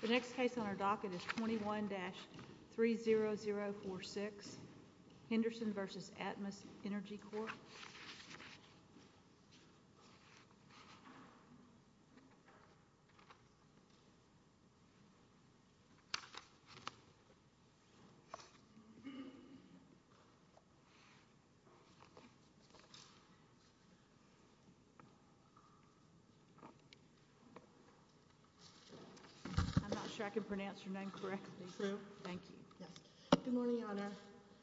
The next case on our docket is 21-30046 Henderson v. Atmos Energy Corp. I'm not sure I can pronounce your name correctly, but thank you.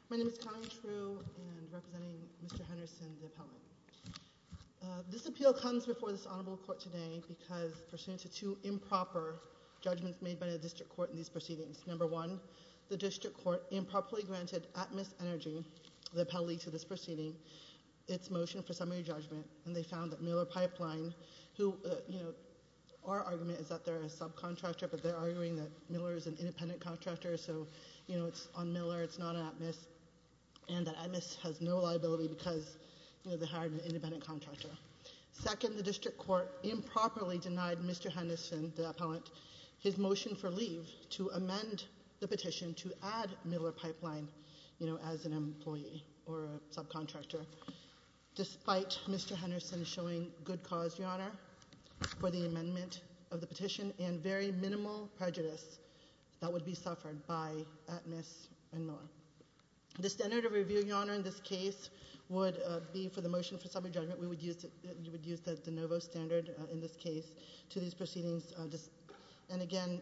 My name is Connie True, and I'm representing Mr. Henderson, the appellant. This appeal comes before this honorable court today because pursuant to two improper judgments made by the district court in these proceedings, number one, the district court improperly granted Atmos Energy, the appellee to this proceeding, its motion for summary judgment, and they found that Miller Pipeline, who, you know, our argument is that they're a subcontractor, but they're arguing that Miller's an independent contractor, so, you know, it's on Miller, it's not Atmos, and that Atmos has no liability because, you know, they hired an independent contractor. Second, the district court improperly denied Mr. Henderson, the appellant, his motion for leave to amend the petition to add Miller Pipeline, you know, as an employee or a subcontractor, despite Mr. Henderson showing good cause, Your Honor, for the amendment of the petition and very minimal prejudice that would be suffered by Atmos and Miller. The standard of review, Your Honor, in this case would be for the motion for summary judgment, we would use the de novo standard in this case to these proceedings, and again,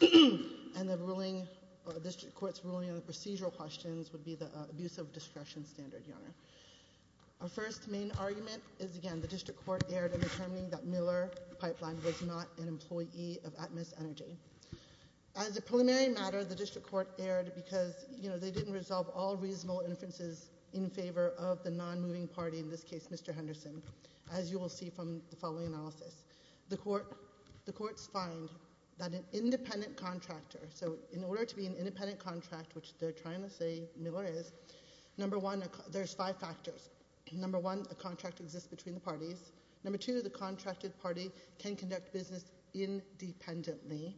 and the ruling, the district court's ruling on the procedural questions would be the abuse of discretion standard, Your Honor. Our first main argument is, again, the district court erred in determining that Miller Pipeline was not an employee of Atmos Energy. As a preliminary matter, the district court erred because, you know, they didn't resolve all reasonable inferences in favor of the non-moving party, in this case, Mr. Henderson, as you will see from the following analysis. The courts find that an independent contractor, so in order to be an independent contract, which they're trying to say Miller is, number one, there's five factors. Number one, a contract exists between the parties. Number two, the contracted party can conduct business independently,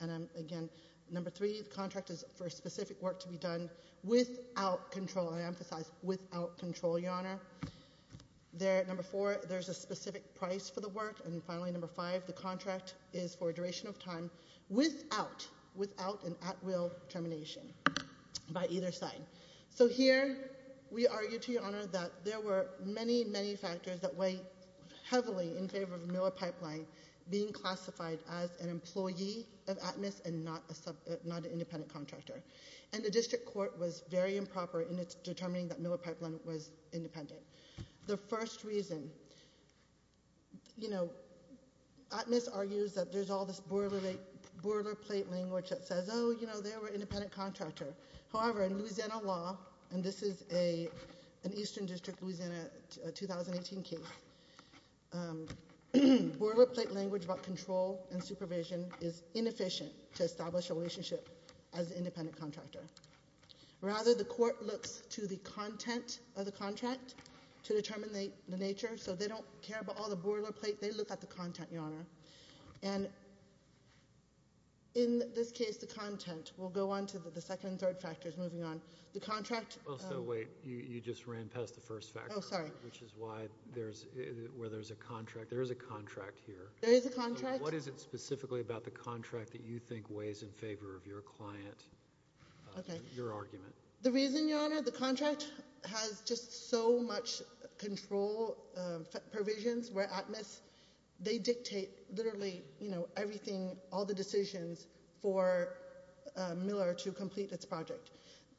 and again, number three, the contract is for specific work to be done without control, I emphasize, without control, Your Honor. Number four, there's a specific price for the work, and finally, number five, the contract is for a duration of time without an at-will termination by either side. So here, we argue, to Your Honor, that there were many, many factors that weigh heavily in favor of Miller Pipeline being classified as an employee of Atmos and not an independent contractor, and the district court was very improper in its determining that Miller Pipeline was independent. The first reason, you know, Atmos argues that there's all this boilerplate language that says, oh, you know, they were an independent contractor. However, in Louisiana law, and this is an Eastern District, Louisiana, 2018 case, boilerplate language about control and supervision is inefficient to establish a relationship as an independent contractor. Rather, the court looks to the content of the contract to determine the nature, so they don't care about all the boilerplate, they look at the content, Your Honor, and in this case, the content, we'll go on to the second and third factors moving on. The contract— Well, so wait, you just ran past the first factor— Oh, sorry. —which is why there's, where there's a contract, there is a contract here. There is a contract. What is it specifically about the contract that you think weighs in favor of your client? Okay. Your argument. The reason, Your Honor, the contract has just so much control provisions where Atmos, they charge Miller to complete its project.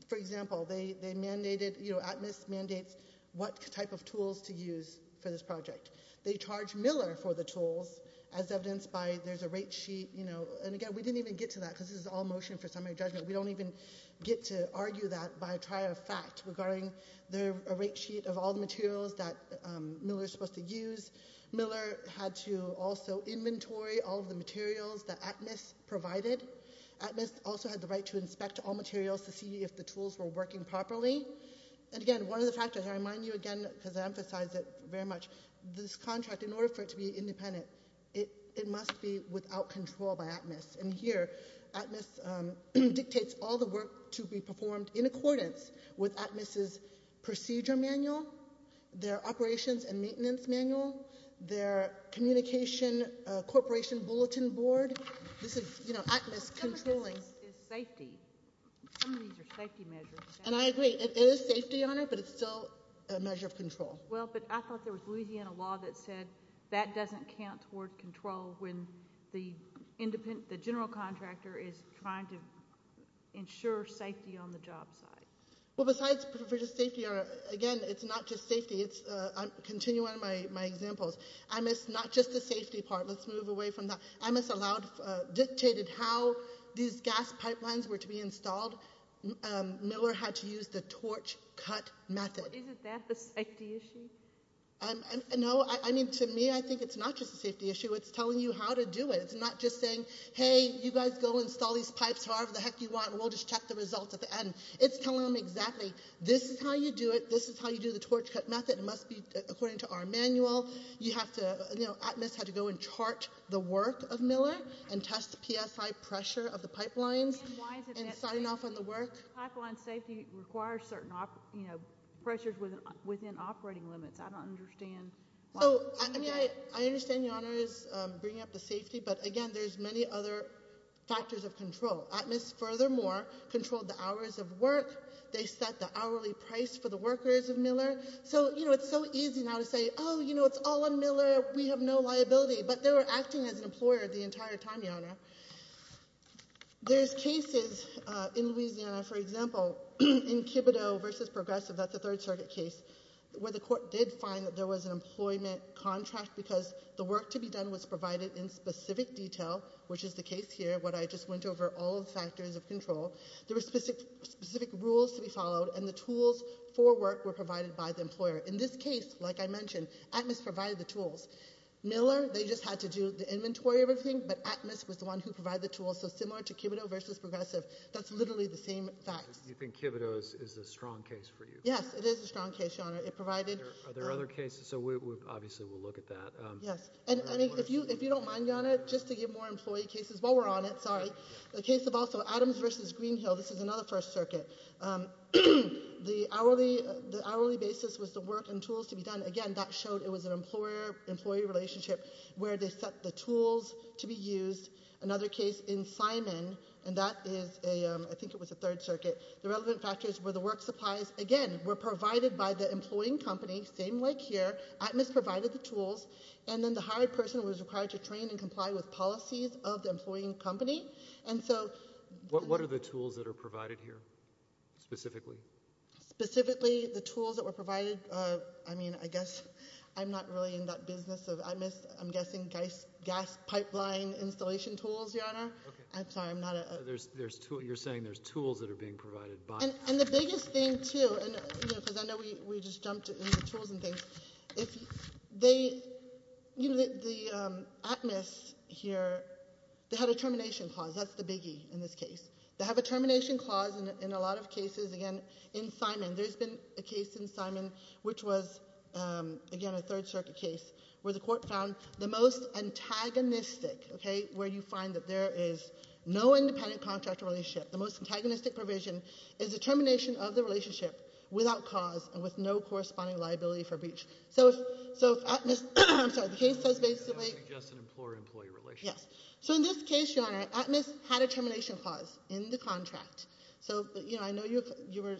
For example, they mandated, you know, Atmos mandates what type of tools to use for this project. They charge Miller for the tools as evidenced by there's a rate sheet, you know, and again, we didn't even get to that because this is all motion for summary judgment. We don't even get to argue that by a trier of fact regarding the rate sheet of all the materials that Miller's supposed to use. Miller had to also inventory all of the materials that Atmos provided. Atmos also had the right to inspect all materials to see if the tools were working properly. And again, one of the factors, I remind you again because I emphasize it very much, this contract, in order for it to be independent, it must be without control by Atmos. And here, Atmos dictates all the work to be performed in accordance with Atmos's procedure manual, their operations and maintenance manual, their communication corporation bulletin board. This is, you know, Atmos controlling. The difference is safety. Some of these are safety measures. And I agree. It is safety on it, but it's still a measure of control. Well, but I thought there was Louisiana law that said that doesn't count toward control when the general contractor is trying to ensure safety on the job site. Well, besides safety, again, it's not just safety. It's continuing one of my examples. Atmos, not just the safety part. Let's move away from that. Atmos dictated how these gas pipelines were to be installed. Miller had to use the torch cut method. Isn't that the safety issue? No, I mean, to me, I think it's not just a safety issue. It's telling you how to do it. It's not just saying, hey, you guys go install these pipes however the heck you want. We'll just check the results at the end. It's telling them exactly, this is how you do it. This is how you do the torch cut method. It must be according to our manual. Atmos had to go and chart the work of Miller and test the PSI pressure of the pipelines and sign off on the work. Pipeline safety requires certain pressures within operating limits. I don't understand. I understand Your Honor is bringing up the safety. But again, there's many other factors of control. Atmos furthermore controlled the hours of work. They set the hourly price for the workers of Miller. So, you know, it's so easy now to say, oh, you know, it's all on Miller. We have no liability. But they were acting as an employer the entire time, Your Honor. There's cases in Louisiana, for example, in Kibido versus Progressive. That's a third circuit case where the court did find that there was an employment contract because the work to be done was provided in specific detail, which is the case here. I just went over all the factors of control. There were specific rules to be followed and the tools for work were provided by the employer. In this case, like I mentioned, Atmos provided the tools. Miller, they just had to do the inventory of everything. But Atmos was the one who provided the tools. So similar to Kibido versus Progressive, that's literally the same facts. You think Kibido is a strong case for you? Yes, it is a strong case, Your Honor. It provided... Are there other cases? So we obviously will look at that. Yes. And I mean, if you don't mind, Your Honor, just to give more employee cases while we're on it, sorry. The case of also Adams versus Greenhill, this is another first circuit. The hourly basis was the work and tools to be done. Again, that showed it was an employer-employee relationship where they set the tools to be used. Another case in Simon, and that is a... I think it was a third circuit. The relevant factors were the work supplies, again, were provided by the employing company, same like here. Atmos provided the tools. And then the hired person was required to train and comply with policies of the employing company. And so... What are the tools that are provided here, specifically? Specifically, the tools that were provided, I mean, I guess I'm not really in that business of Atmos. I'm guessing gas pipeline installation tools, Your Honor. I'm sorry, I'm not a... There's... You're saying there's tools that are being provided by... And the biggest thing, too, and because I know we just jumped into tools and things, if they... The Atmos here, they had a termination clause. That's the biggie in this case. They have a termination clause in a lot of cases. Again, in Simon, there's been a case in Simon which was, again, a third circuit case where the court found the most antagonistic, okay, where you find that there is no independent contract relationship. The most antagonistic provision is the termination of the relationship without cause and with no corresponding liability for breach. So, if Atmos... I'm sorry, the case says basically... I was suggesting employer-employee relations. Yes. So, in this case, Your Honor, Atmos had a termination clause in the contract. So, I know you were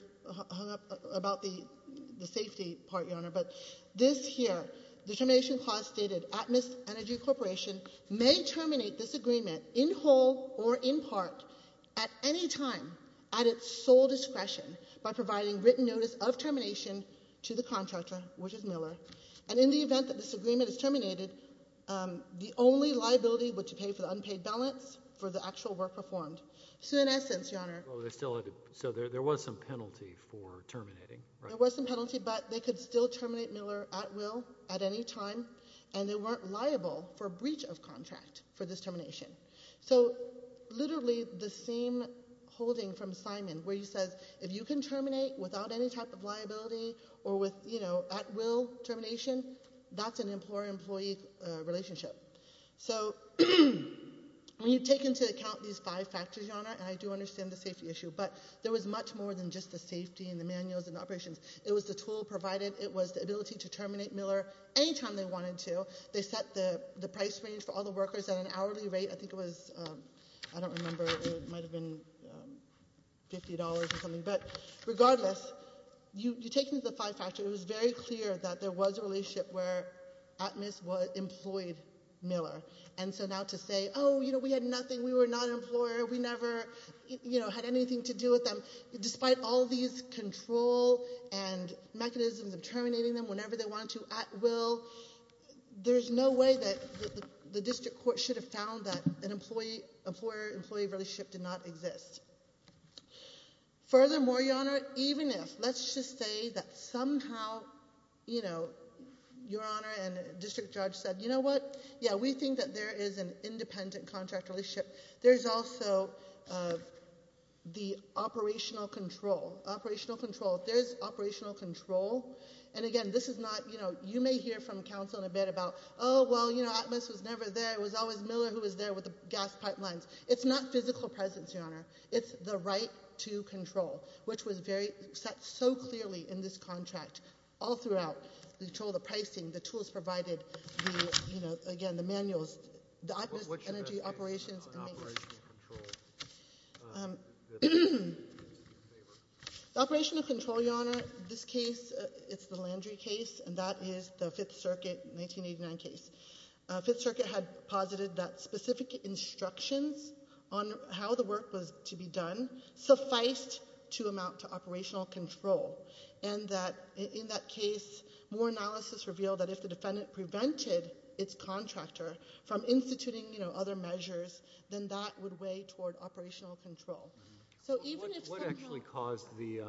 hung up about the safety part, Your Honor, but this here, the termination clause stated, Atmos Energy Corporation may terminate this agreement in whole or in part at any time at its sole discretion by providing written notice of termination to the contractor, which is Miller, and in the event that this agreement is terminated, the only liability would to pay for the unpaid balance for the actual work performed. So, in essence, Your Honor... Well, they still had to... So, there was some penalty for terminating, right? There was some penalty, but they could still terminate Miller at will at any time, and they weren't liable for breach of contract for this termination. So, literally, the same holding from Simon, where he says, if you can terminate without any type of liability or with, you know, at-will termination, that's an employer-employee relationship. So, when you take into account these five factors, Your Honor, and I do understand the safety issue, but there was much more than just the safety and the manuals and operations. It was the tool provided. It was the ability to terminate Miller any time they wanted to. They set the price range for all the workers at an hourly rate. I think it was... I don't remember. It might have been $50 or something, but regardless, you take into the five factors. It was very clear that there was a relationship where Atmis employed Miller, and so now to say, oh, you know, we had nothing. We were not an employer. We never, you know, had anything to do with them. Despite all these control and mechanisms of terminating them whenever they wanted to at will, there's no way that the district court should have found that an employer-employee relationship did not exist. Furthermore, Your Honor, even if, let's just say that somehow, you know, Your Honor and District Judge said, you know what? Yeah, we think that there is an independent contract relationship. There's also the operational control. Operational control. There's operational control. And again, this is not, you know, you may hear from counsel in a bit about, oh, well, you know, Atmis was never there. It was always Miller who was there with the gas pipelines. It's not physical presence, Your Honor. It's the right to control, which was very set so clearly in this contract all throughout. We told the pricing, the tools provided, you know, again, the manuals, the Atmis energy operations. Operational control, Your Honor. This case, it's the Landry case, and that is the Fifth Circuit 1989 case. Fifth Circuit had posited that specific instructions on how the work was to be done sufficed to amount to operational control, and that in that case, more analysis revealed that if the defendant prevented its contractor from instituting, you know, other measures, then that would weigh toward operational control. What actually caused the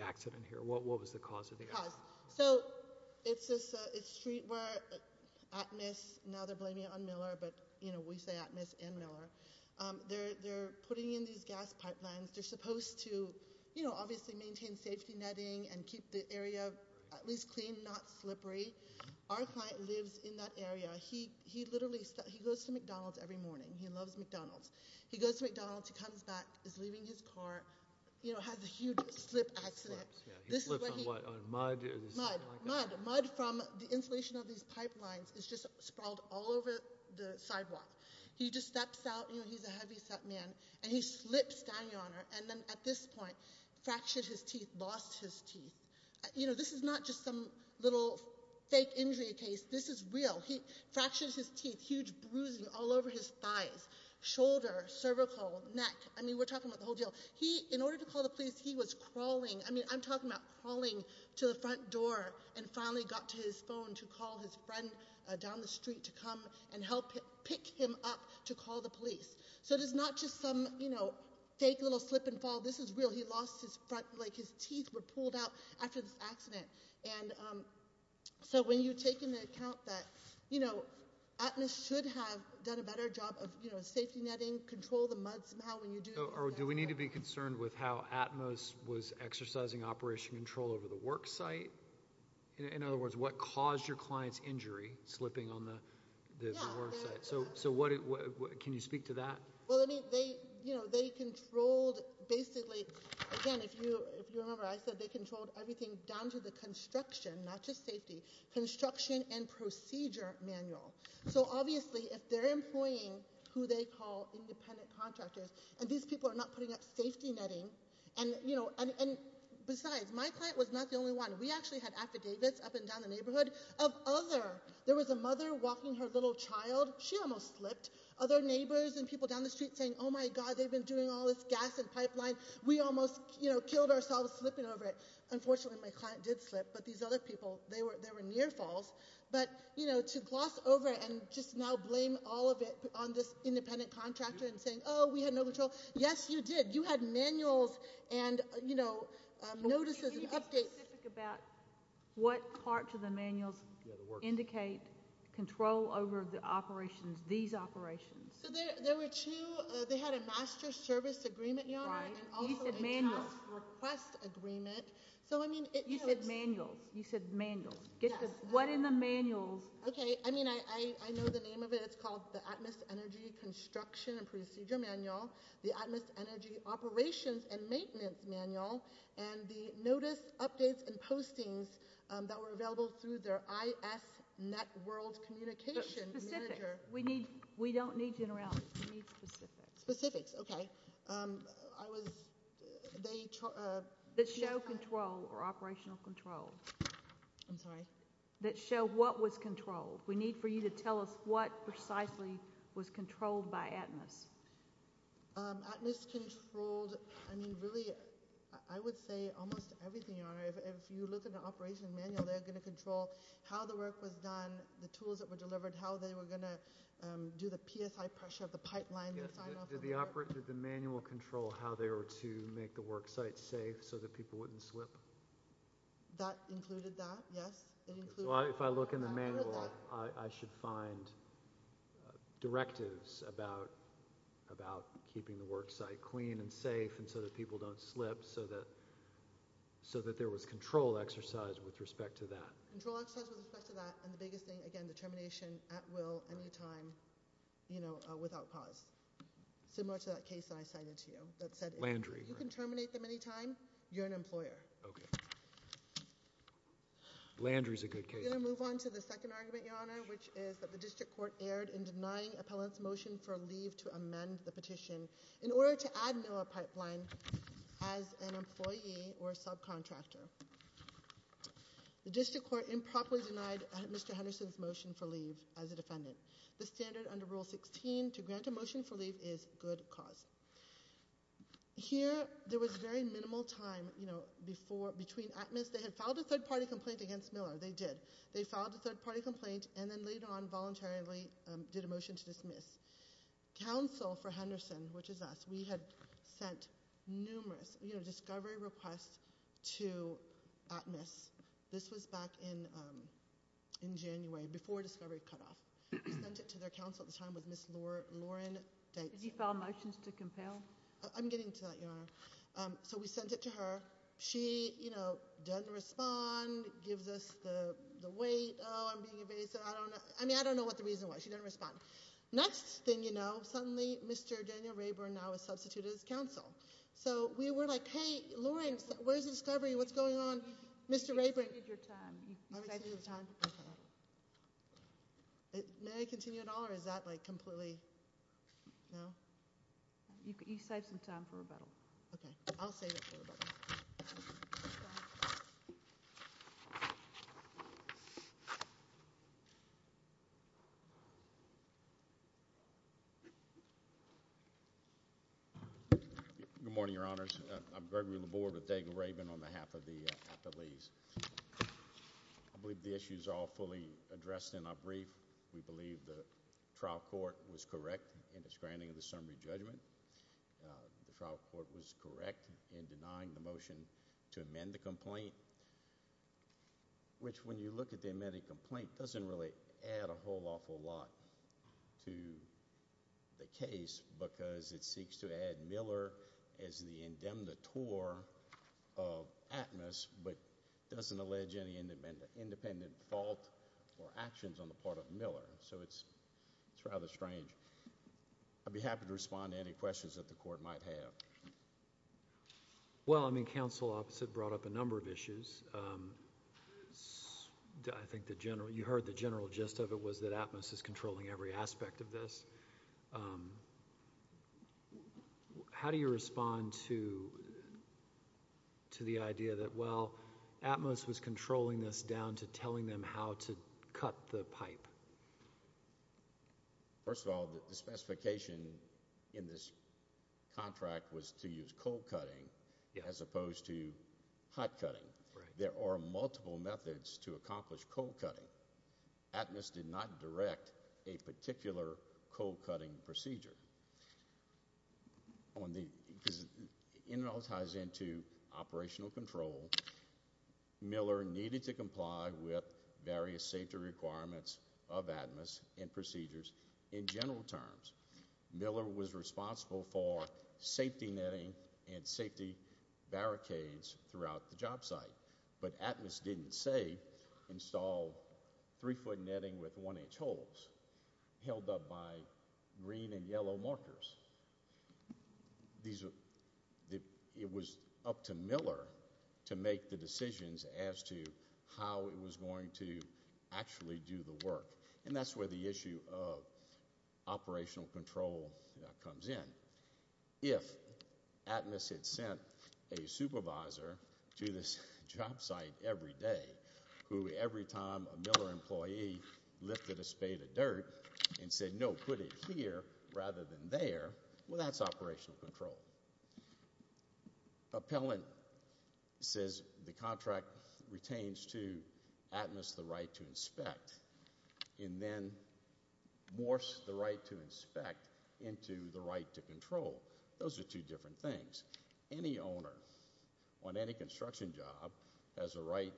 accident here? What was the cause of the accident? So, it's street where Atmis, now they're blaming it on Miller, but, you know, we say Atmis and Miller, they're putting in these gas pipelines. They're supposed to, you know, obviously maintain safety netting and keep the area at least clean, not slippery. Our client lives in that area. He literally, he goes to McDonald's every morning. He loves McDonald's. He goes to McDonald's, he comes back, is leaving his car, you know, has a huge slip accident. He slips, yeah. He slips on what? On mud or something like that? Mud. Mud from the installation of these pipelines is just sprawled all over the sidewalk. He just steps out, you know, he's a heavy set man, and he slips down, Your Honor, and then at this point fractured his teeth, lost his teeth. You know, this is not just some little fake injury case. This is real. He fractured his teeth, huge bruising all over his thighs, shoulder, cervical, neck. I mean, we're talking about the whole deal. He, in order to call the police, he was crawling. I mean, I'm talking about crawling to the front door and finally got to his phone to call his friend down the street to come and help pick him up to call the police. So, it is not just some, you know, fake little slip and fall. This is real. He lost his front, like his teeth were pulled out after this accident. And so, when you take into account that, you know, ATMOS should have done a better job of, you know, safety netting, control the mud somehow when you do that. Do we need to be concerned with how ATMOS was exercising operation control over the work site? In other words, what caused your client's injury slipping on the work site? So, can you speak to that? Well, I mean, they, you know, they controlled, basically, again, if you remember, I said they controlled everything down to the construction, not just safety, construction and procedure manual. So, obviously, if they're employing who they call independent contractors, and these people are not putting up safety netting, and, you know, and besides, my client was not the only one. We actually had affidavits up and down the neighborhood of other, there was a mother walking her little child, she almost slipped. Other neighbors and people down the street saying, oh, my God, they've been doing all this gas and pipeline. We almost, you know, killed ourselves slipping over it. Unfortunately, my client did slip, but these other people, they were near falls. But, you know, to gloss over it and just now blame all of it on this independent contractor and saying, oh, we had no control. Yes, you did. You had manuals and, you know, notices and updates. Can you be specific about what parts of the manuals indicate control over the operations, these operations? So, there were two, they had a master service agreement, Your Honor, and also a task request agreement. So, I mean, you said manuals. You said manuals. What in the manuals? Okay. I mean, I know the name of it. It's called the Atmos Energy Construction and Procedure Manual, the Atmos Energy Operations and Maintenance Manual, and the notice, updates, and postings that were available through their IS net world communication manager. We don't need generalities. We need specifics. Specifics, okay. I was, they. That show control or operational control. I'm sorry. That show what was controlled. We need for you to tell us what precisely was controlled by Atmos. Atmos controlled, I mean, really, I would say almost everything, Your Honor. If you look at the operation manual, they're going to control how the work was done, the do the PSI pressure of the pipeline. Did the manual control how they were to make the work site safe so that people wouldn't slip? That included that, yes. It included that. If I look in the manual, I should find directives about keeping the work site clean and safe and so that people don't slip, so that there was control exercise with respect to that. Control exercise with respect to that, and the biggest thing, again, determination at any time, you know, without cause. Similar to that case that I cited to you that said if you can terminate them anytime, you're an employer. Okay. Landry's a good case. We're going to move on to the second argument, Your Honor, which is that the district court erred in denying appellant's motion for leave to amend the petition in order to add NOAA pipeline as an employee or subcontractor. The district court improperly denied Mr. Henderson's motion for leave as a defendant. The standard under Rule 16 to grant a motion for leave is good cause. Here, there was very minimal time, you know, before, between admins. They had filed a third-party complaint against Miller. They did. They filed a third-party complaint and then later on voluntarily did a motion to dismiss. Counsel for Henderson, which is us, we had sent numerous, you know, discovery requests to admins. This was back in, um, in January before discovery cut off. We sent it to their counsel at the time with Ms. Lauren Dykes. Did he file motions to compel? I'm getting to that, Your Honor. So we sent it to her. She, you know, doesn't respond, gives us the weight, oh, I'm being evasive. I don't know. I mean, I don't know what the reason was. She didn't respond. Next thing you know, suddenly, Mr. Daniel Rayburn now is substituted as counsel. So we were like, hey, Lauren, where's the discovery? What's going on? Mr. Rayburn. You saved your time. May I continue at all? Or is that, like, completely, no? You saved some time for rebuttal. Okay. I'll save it for rebuttal. Good morning, Your Honors. I'm Gregory Laborde with Daniel Rayburn on behalf of the, uh, at the Lees. I believe the issues are all fully addressed in our brief. We believe the trial court was correct in its granting of the summary judgment. The trial court was correct in denying the motion to amend the complaint. Which, when you look at the amended complaint, doesn't really add a whole awful lot. To the case. Because it seeks to add Miller as the indemnitore of Atmos, but doesn't allege any independent fault or actions on the part of Miller. So it's, it's rather strange. I'd be happy to respond to any questions that the court might have. Well, I mean, counsel opposite brought up a number of issues. I think the general, you heard the general gist of it was that Atmos is controlling every aspect of this. How do you respond to the idea that, well, Atmos was controlling this down to telling them how to cut the pipe? First of all, the specification in this contract was to use cold cutting as opposed to hot cutting. There are multiple methods to accomplish cold cutting. Atmos did not direct a particular cold cutting procedure. On the, because it all ties into operational control, Miller needed to comply with various safety requirements of Atmos and procedures in general terms. Miller was responsible for safety netting and safety barricades throughout the job site. But Atmos didn't say install three-foot netting with one-inch holes held up by green and yellow markers. These, it was up to Miller to make the decisions as to how it was going to actually do the work. And that's where the issue of operational control comes in. If Atmos had sent a supervisor to this job site every day, who every time a Miller employee lifted a spade of dirt and said, no, put it here rather than there, well, that's operational control. Appellant says the contract retains to Atmos the right to inspect and then morphs the right to inspect into the right to control. Those are two different things. Any owner on any construction job has a right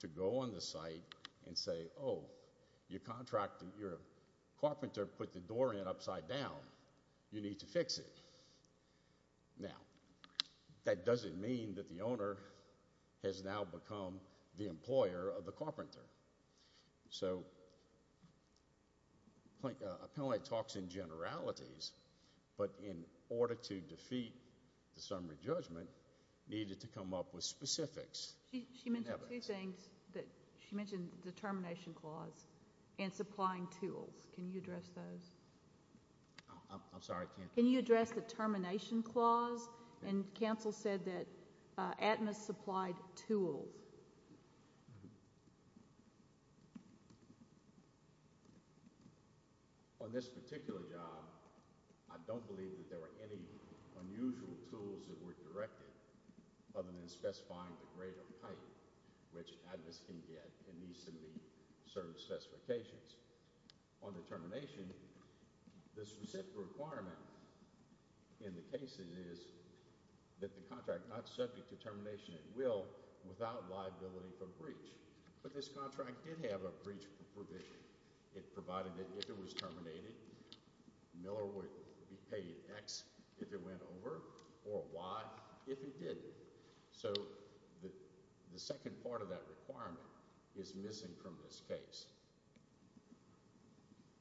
to go on the site and say, oh, you contract, your carpenter put the door in upside down, you need to fix it. Now, that doesn't mean that the owner has now become the employer of the carpenter. So, appellate talks in generalities, but in order to defeat the summary judgment, needed to come up with specifics. She mentioned two things. She mentioned the termination clause and supplying tools. Can you address those? I'm sorry, I can't. Can you address the termination clause? And counsel said that Atmos supplied tools. On this particular job, I don't believe that there were any unusual tools that were directed other than specifying the grade of pipe, which Atmos can get and needs to meet certain specifications. On the termination, the specific requirement in the case is that the contract not subject to termination at will without liability for breach. But this contract did have a breach provision. It provided that if it was terminated, Miller would be paid X if it went over or Y if it did. So, the second part of that requirement is missing from this case.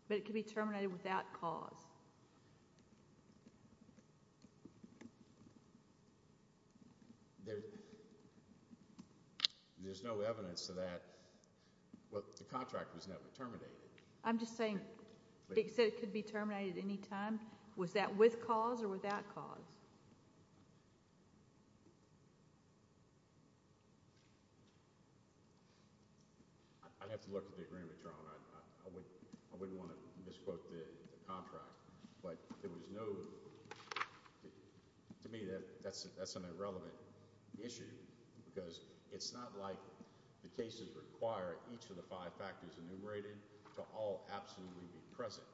But it could be terminated without cause. There's no evidence to that. Well, the contract was never terminated. I'm just saying it could be terminated anytime. Was that with cause or without cause? I wouldn't want to misquote the contract. But to me, that's an irrelevant issue because it's not like the cases require each of the five factors enumerated to all absolutely be present.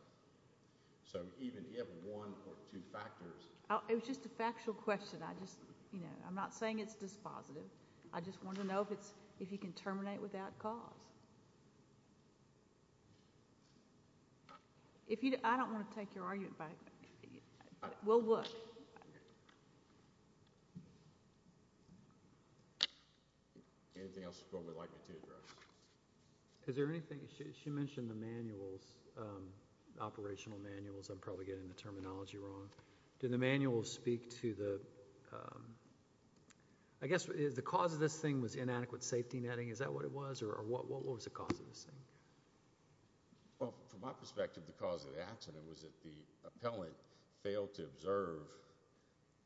So, even if one or two factors... It was just a factual question. I'm not saying it's dispositive. I just wanted to know if you can terminate without cause. I don't want to take your argument back. We'll look. Anything else the Court would like me to address? Is there anything... She mentioned the manuals, operational manuals. I'm probably getting the terminology wrong. Did the manuals speak to the... I guess the cause of this thing was inadequate safety netting. Is that what it was or what was the cause of this thing? Well, from my perspective, the cause of the accident was that the appellant failed to observe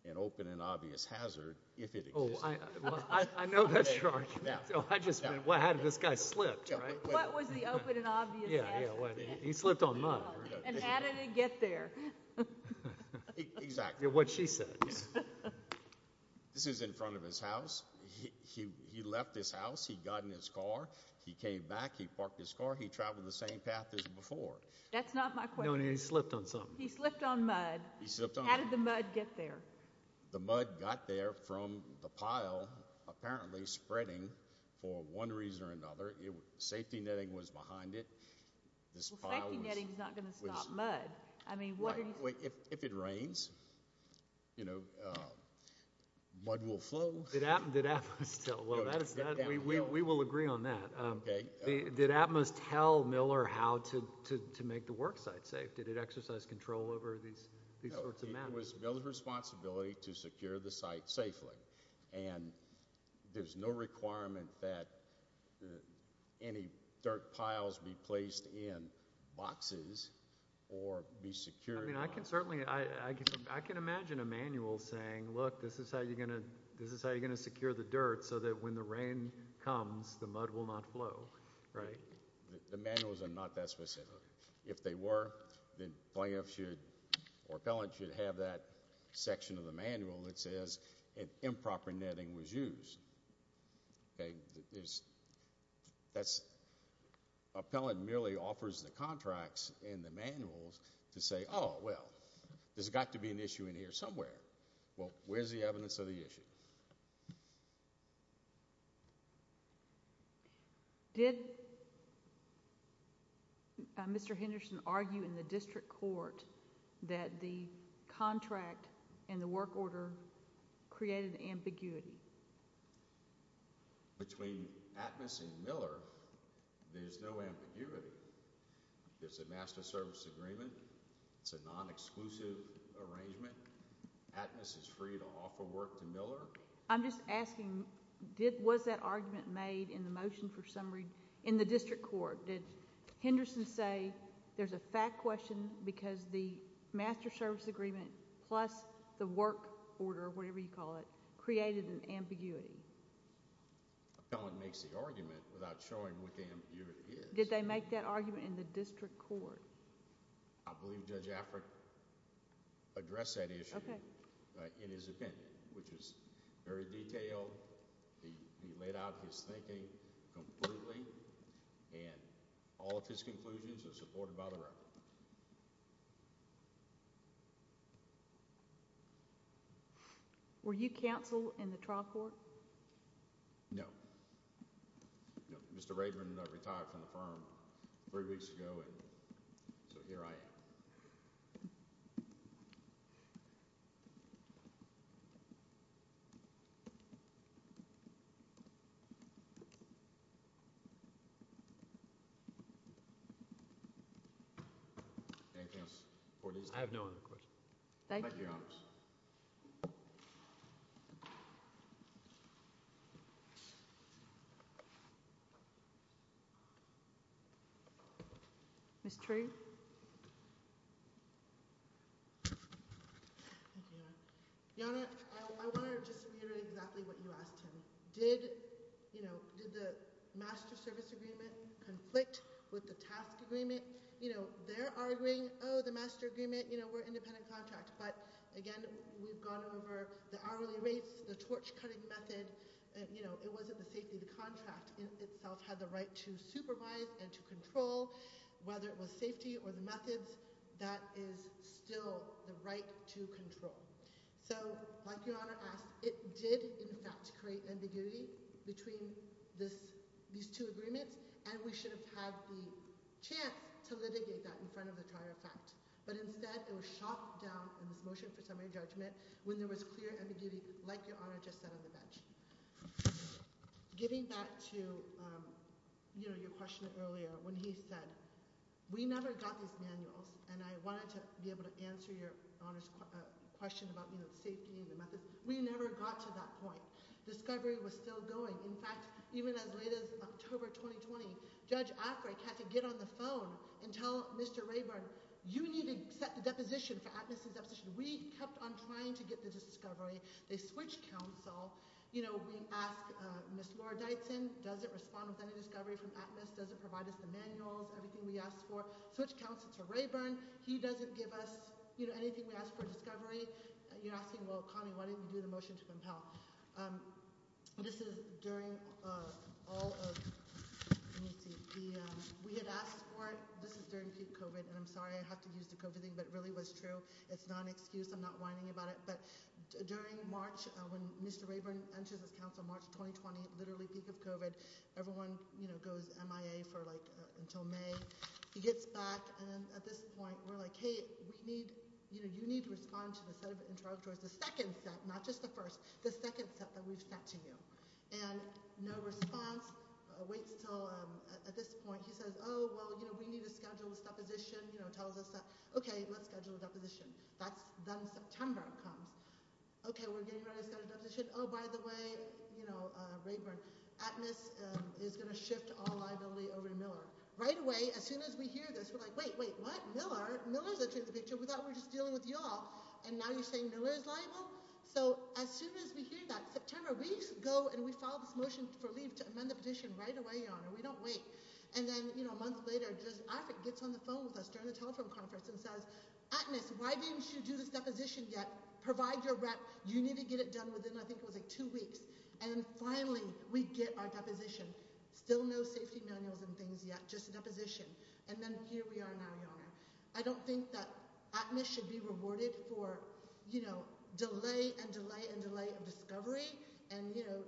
an open and obvious hazard if it existed. Oh, I know that's your argument. I just meant, well, how did this guy slip, right? What was the open and obvious hazard? He slipped on mud. And how did it get there? Exactly. What she says. This is in front of his house. He left his house. He got in his car. He came back. He parked his car. He traveled the same path as before. That's not my question. No, he slipped on something. He slipped on mud. How did the mud get there? The mud got there from the pile apparently spreading for one reason or another. Safety netting was behind it. Well, safety netting is not going to stop mud. I mean, what are you... If it rains, you know, mud will flow. We will agree on that. Did Atmos tell Miller how to make the worksite safe? Did it exercise control over these sorts of matters? No, it was Miller's responsibility to secure the site safely. And there's no requirement that any dirt piles be placed in boxes or be secured. I mean, I can imagine a manual saying, look, this is how you're going to secure the dirt so that when the rain comes, the mud will not flow, right? The manuals are not that specific. If they were, the plaintiff should or appellant should have that section of the manual that says an improper netting was used, okay? That's... Appellant merely offers the contracts in the manuals to say, oh, well, there's got to be an issue in here somewhere. Well, where's the evidence of the issue? Did Mr. Henderson argue in the district court that the contract and the work order created ambiguity? Between Atmos and Miller, there's no ambiguity. There's a master service agreement. It's a non-exclusive arrangement. Atmos is free to offer work to Miller. I'm just asking, was that argument made in the motion for summary in the district court? Did Henderson say there's a fact question because the master service agreement plus the work order, whatever you call it, created an ambiguity? The appellant makes the argument without showing what the ambiguity is. Did they make that argument in the district court? I believe Judge Afric addressed that issue in his opinion, which is very detailed. He laid out his thinking completely, and all of his conclusions are supported by the record. Were you counsel in the trial court? No. Mr. Rayburn retired from the firm three weeks ago, and so here I am. I have no other questions. Thank you. Mr. Rayburn. Your Honor, I want to just reiterate exactly what you asked him. Did the master service agreement conflict with the task agreement? They're arguing, oh, the master agreement, we're independent contract, but again, we've gone over the hourly rates, the torch cutting method. It wasn't the safety of the contract. Itself had the right to supervise and to control whether it was safety or the methods. That is still the right to control. So like your Honor asked, it did in fact create ambiguity between this, these two agreements, and we should have had the chance to litigate that in front of the trial effect. But instead it was shot down in this motion for summary judgment when there was clear ambiguity like your Honor just said on the bench. Getting back to, you know, your question earlier when he said we never got these manuals and I wanted to be able to answer your Honor's question about, you know, safety and the methods. We never got to that point. Discovery was still going. In fact, even as late as October 2020, Judge Africk had to get on the phone and tell Mr. Rayburn, you need to set the deposition for Atkinson's deposition. We kept on trying to get the discovery. They switched counsel. You know, we asked Ms. Laura Dyson, does it respond with any discovery from Atmos? Does it provide us the manuals? Everything we asked for. Switched counsel to Rayburn. He doesn't give us, you know, anything we asked for discovery. You're asking, well, Connie, why didn't we do the motion to compel? This is during all of, let me see, the, we had asked for it. This is during peak COVID, and I'm sorry I have to use the COVID thing, but it really was true. It's not an excuse. I'm not whining about it. During March, when Mr. Rayburn enters as counsel, March 2020, literally peak of COVID, everyone, you know, goes MIA for like until May, he gets back. And then at this point, we're like, hey, we need, you know, you need to respond to the set of interrogatories, the second set, not just the first, the second set that we've sent to you. And no response. Waits till at this point, he says, oh, well, you know, we need to schedule this deposition, you know, tells us that, okay, let's schedule a deposition. That's then September comes. Okay. We're getting ready to schedule a deposition. Oh, by the way, you know, Rayburn, ATMAS is going to shift all liability over to Miller. Right away, as soon as we hear this, we're like, wait, wait, what? Miller? Miller's the truth of the picture. We thought we were just dealing with y'all. And now you're saying Miller's liable? So as soon as we hear that, September, we go and we file this motion for leave to amend the petition right away, Your Honor. We don't wait. And then, you know, a month later, just AFRIC gets on the phone with us during the telephone conference and says, ATMAS, why didn't you do this deposition yet? Provide your rep. You need to get it done within, I think it was like two weeks. And finally, we get our deposition. Still no safety manuals and things yet, just a deposition. And then here we are now, Your Honor. I don't think that ATMAS should be rewarded for, you know, delay and delay and delay of discovery. And, you know,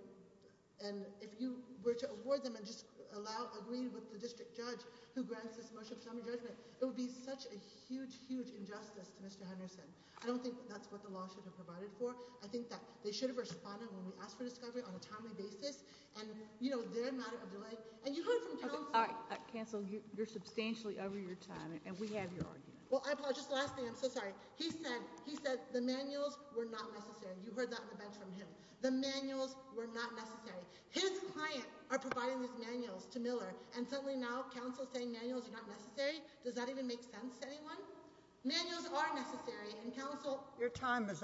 and if you were to award them and just allow, agree with the district judge who grants this motion for summary judgment, it would be such a huge, huge injustice to Mr. Henderson. I don't think that's what the law should have provided for. I think that they should have responded when we asked for discovery on a timely basis. And, you know, they're a matter of delay. And you heard from counsel. All right, counsel, you're substantially over your time and we have your argument. Well, I apologize. Just lastly, I'm so sorry. He said, he said the manuals were not necessary. You heard that on the bench from him. The manuals were not necessary. His client are providing these manuals to Miller and suddenly now counsel saying manuals are not necessary. Does that even make sense to anyone? Manuals are necessary and counsel. Your time is up.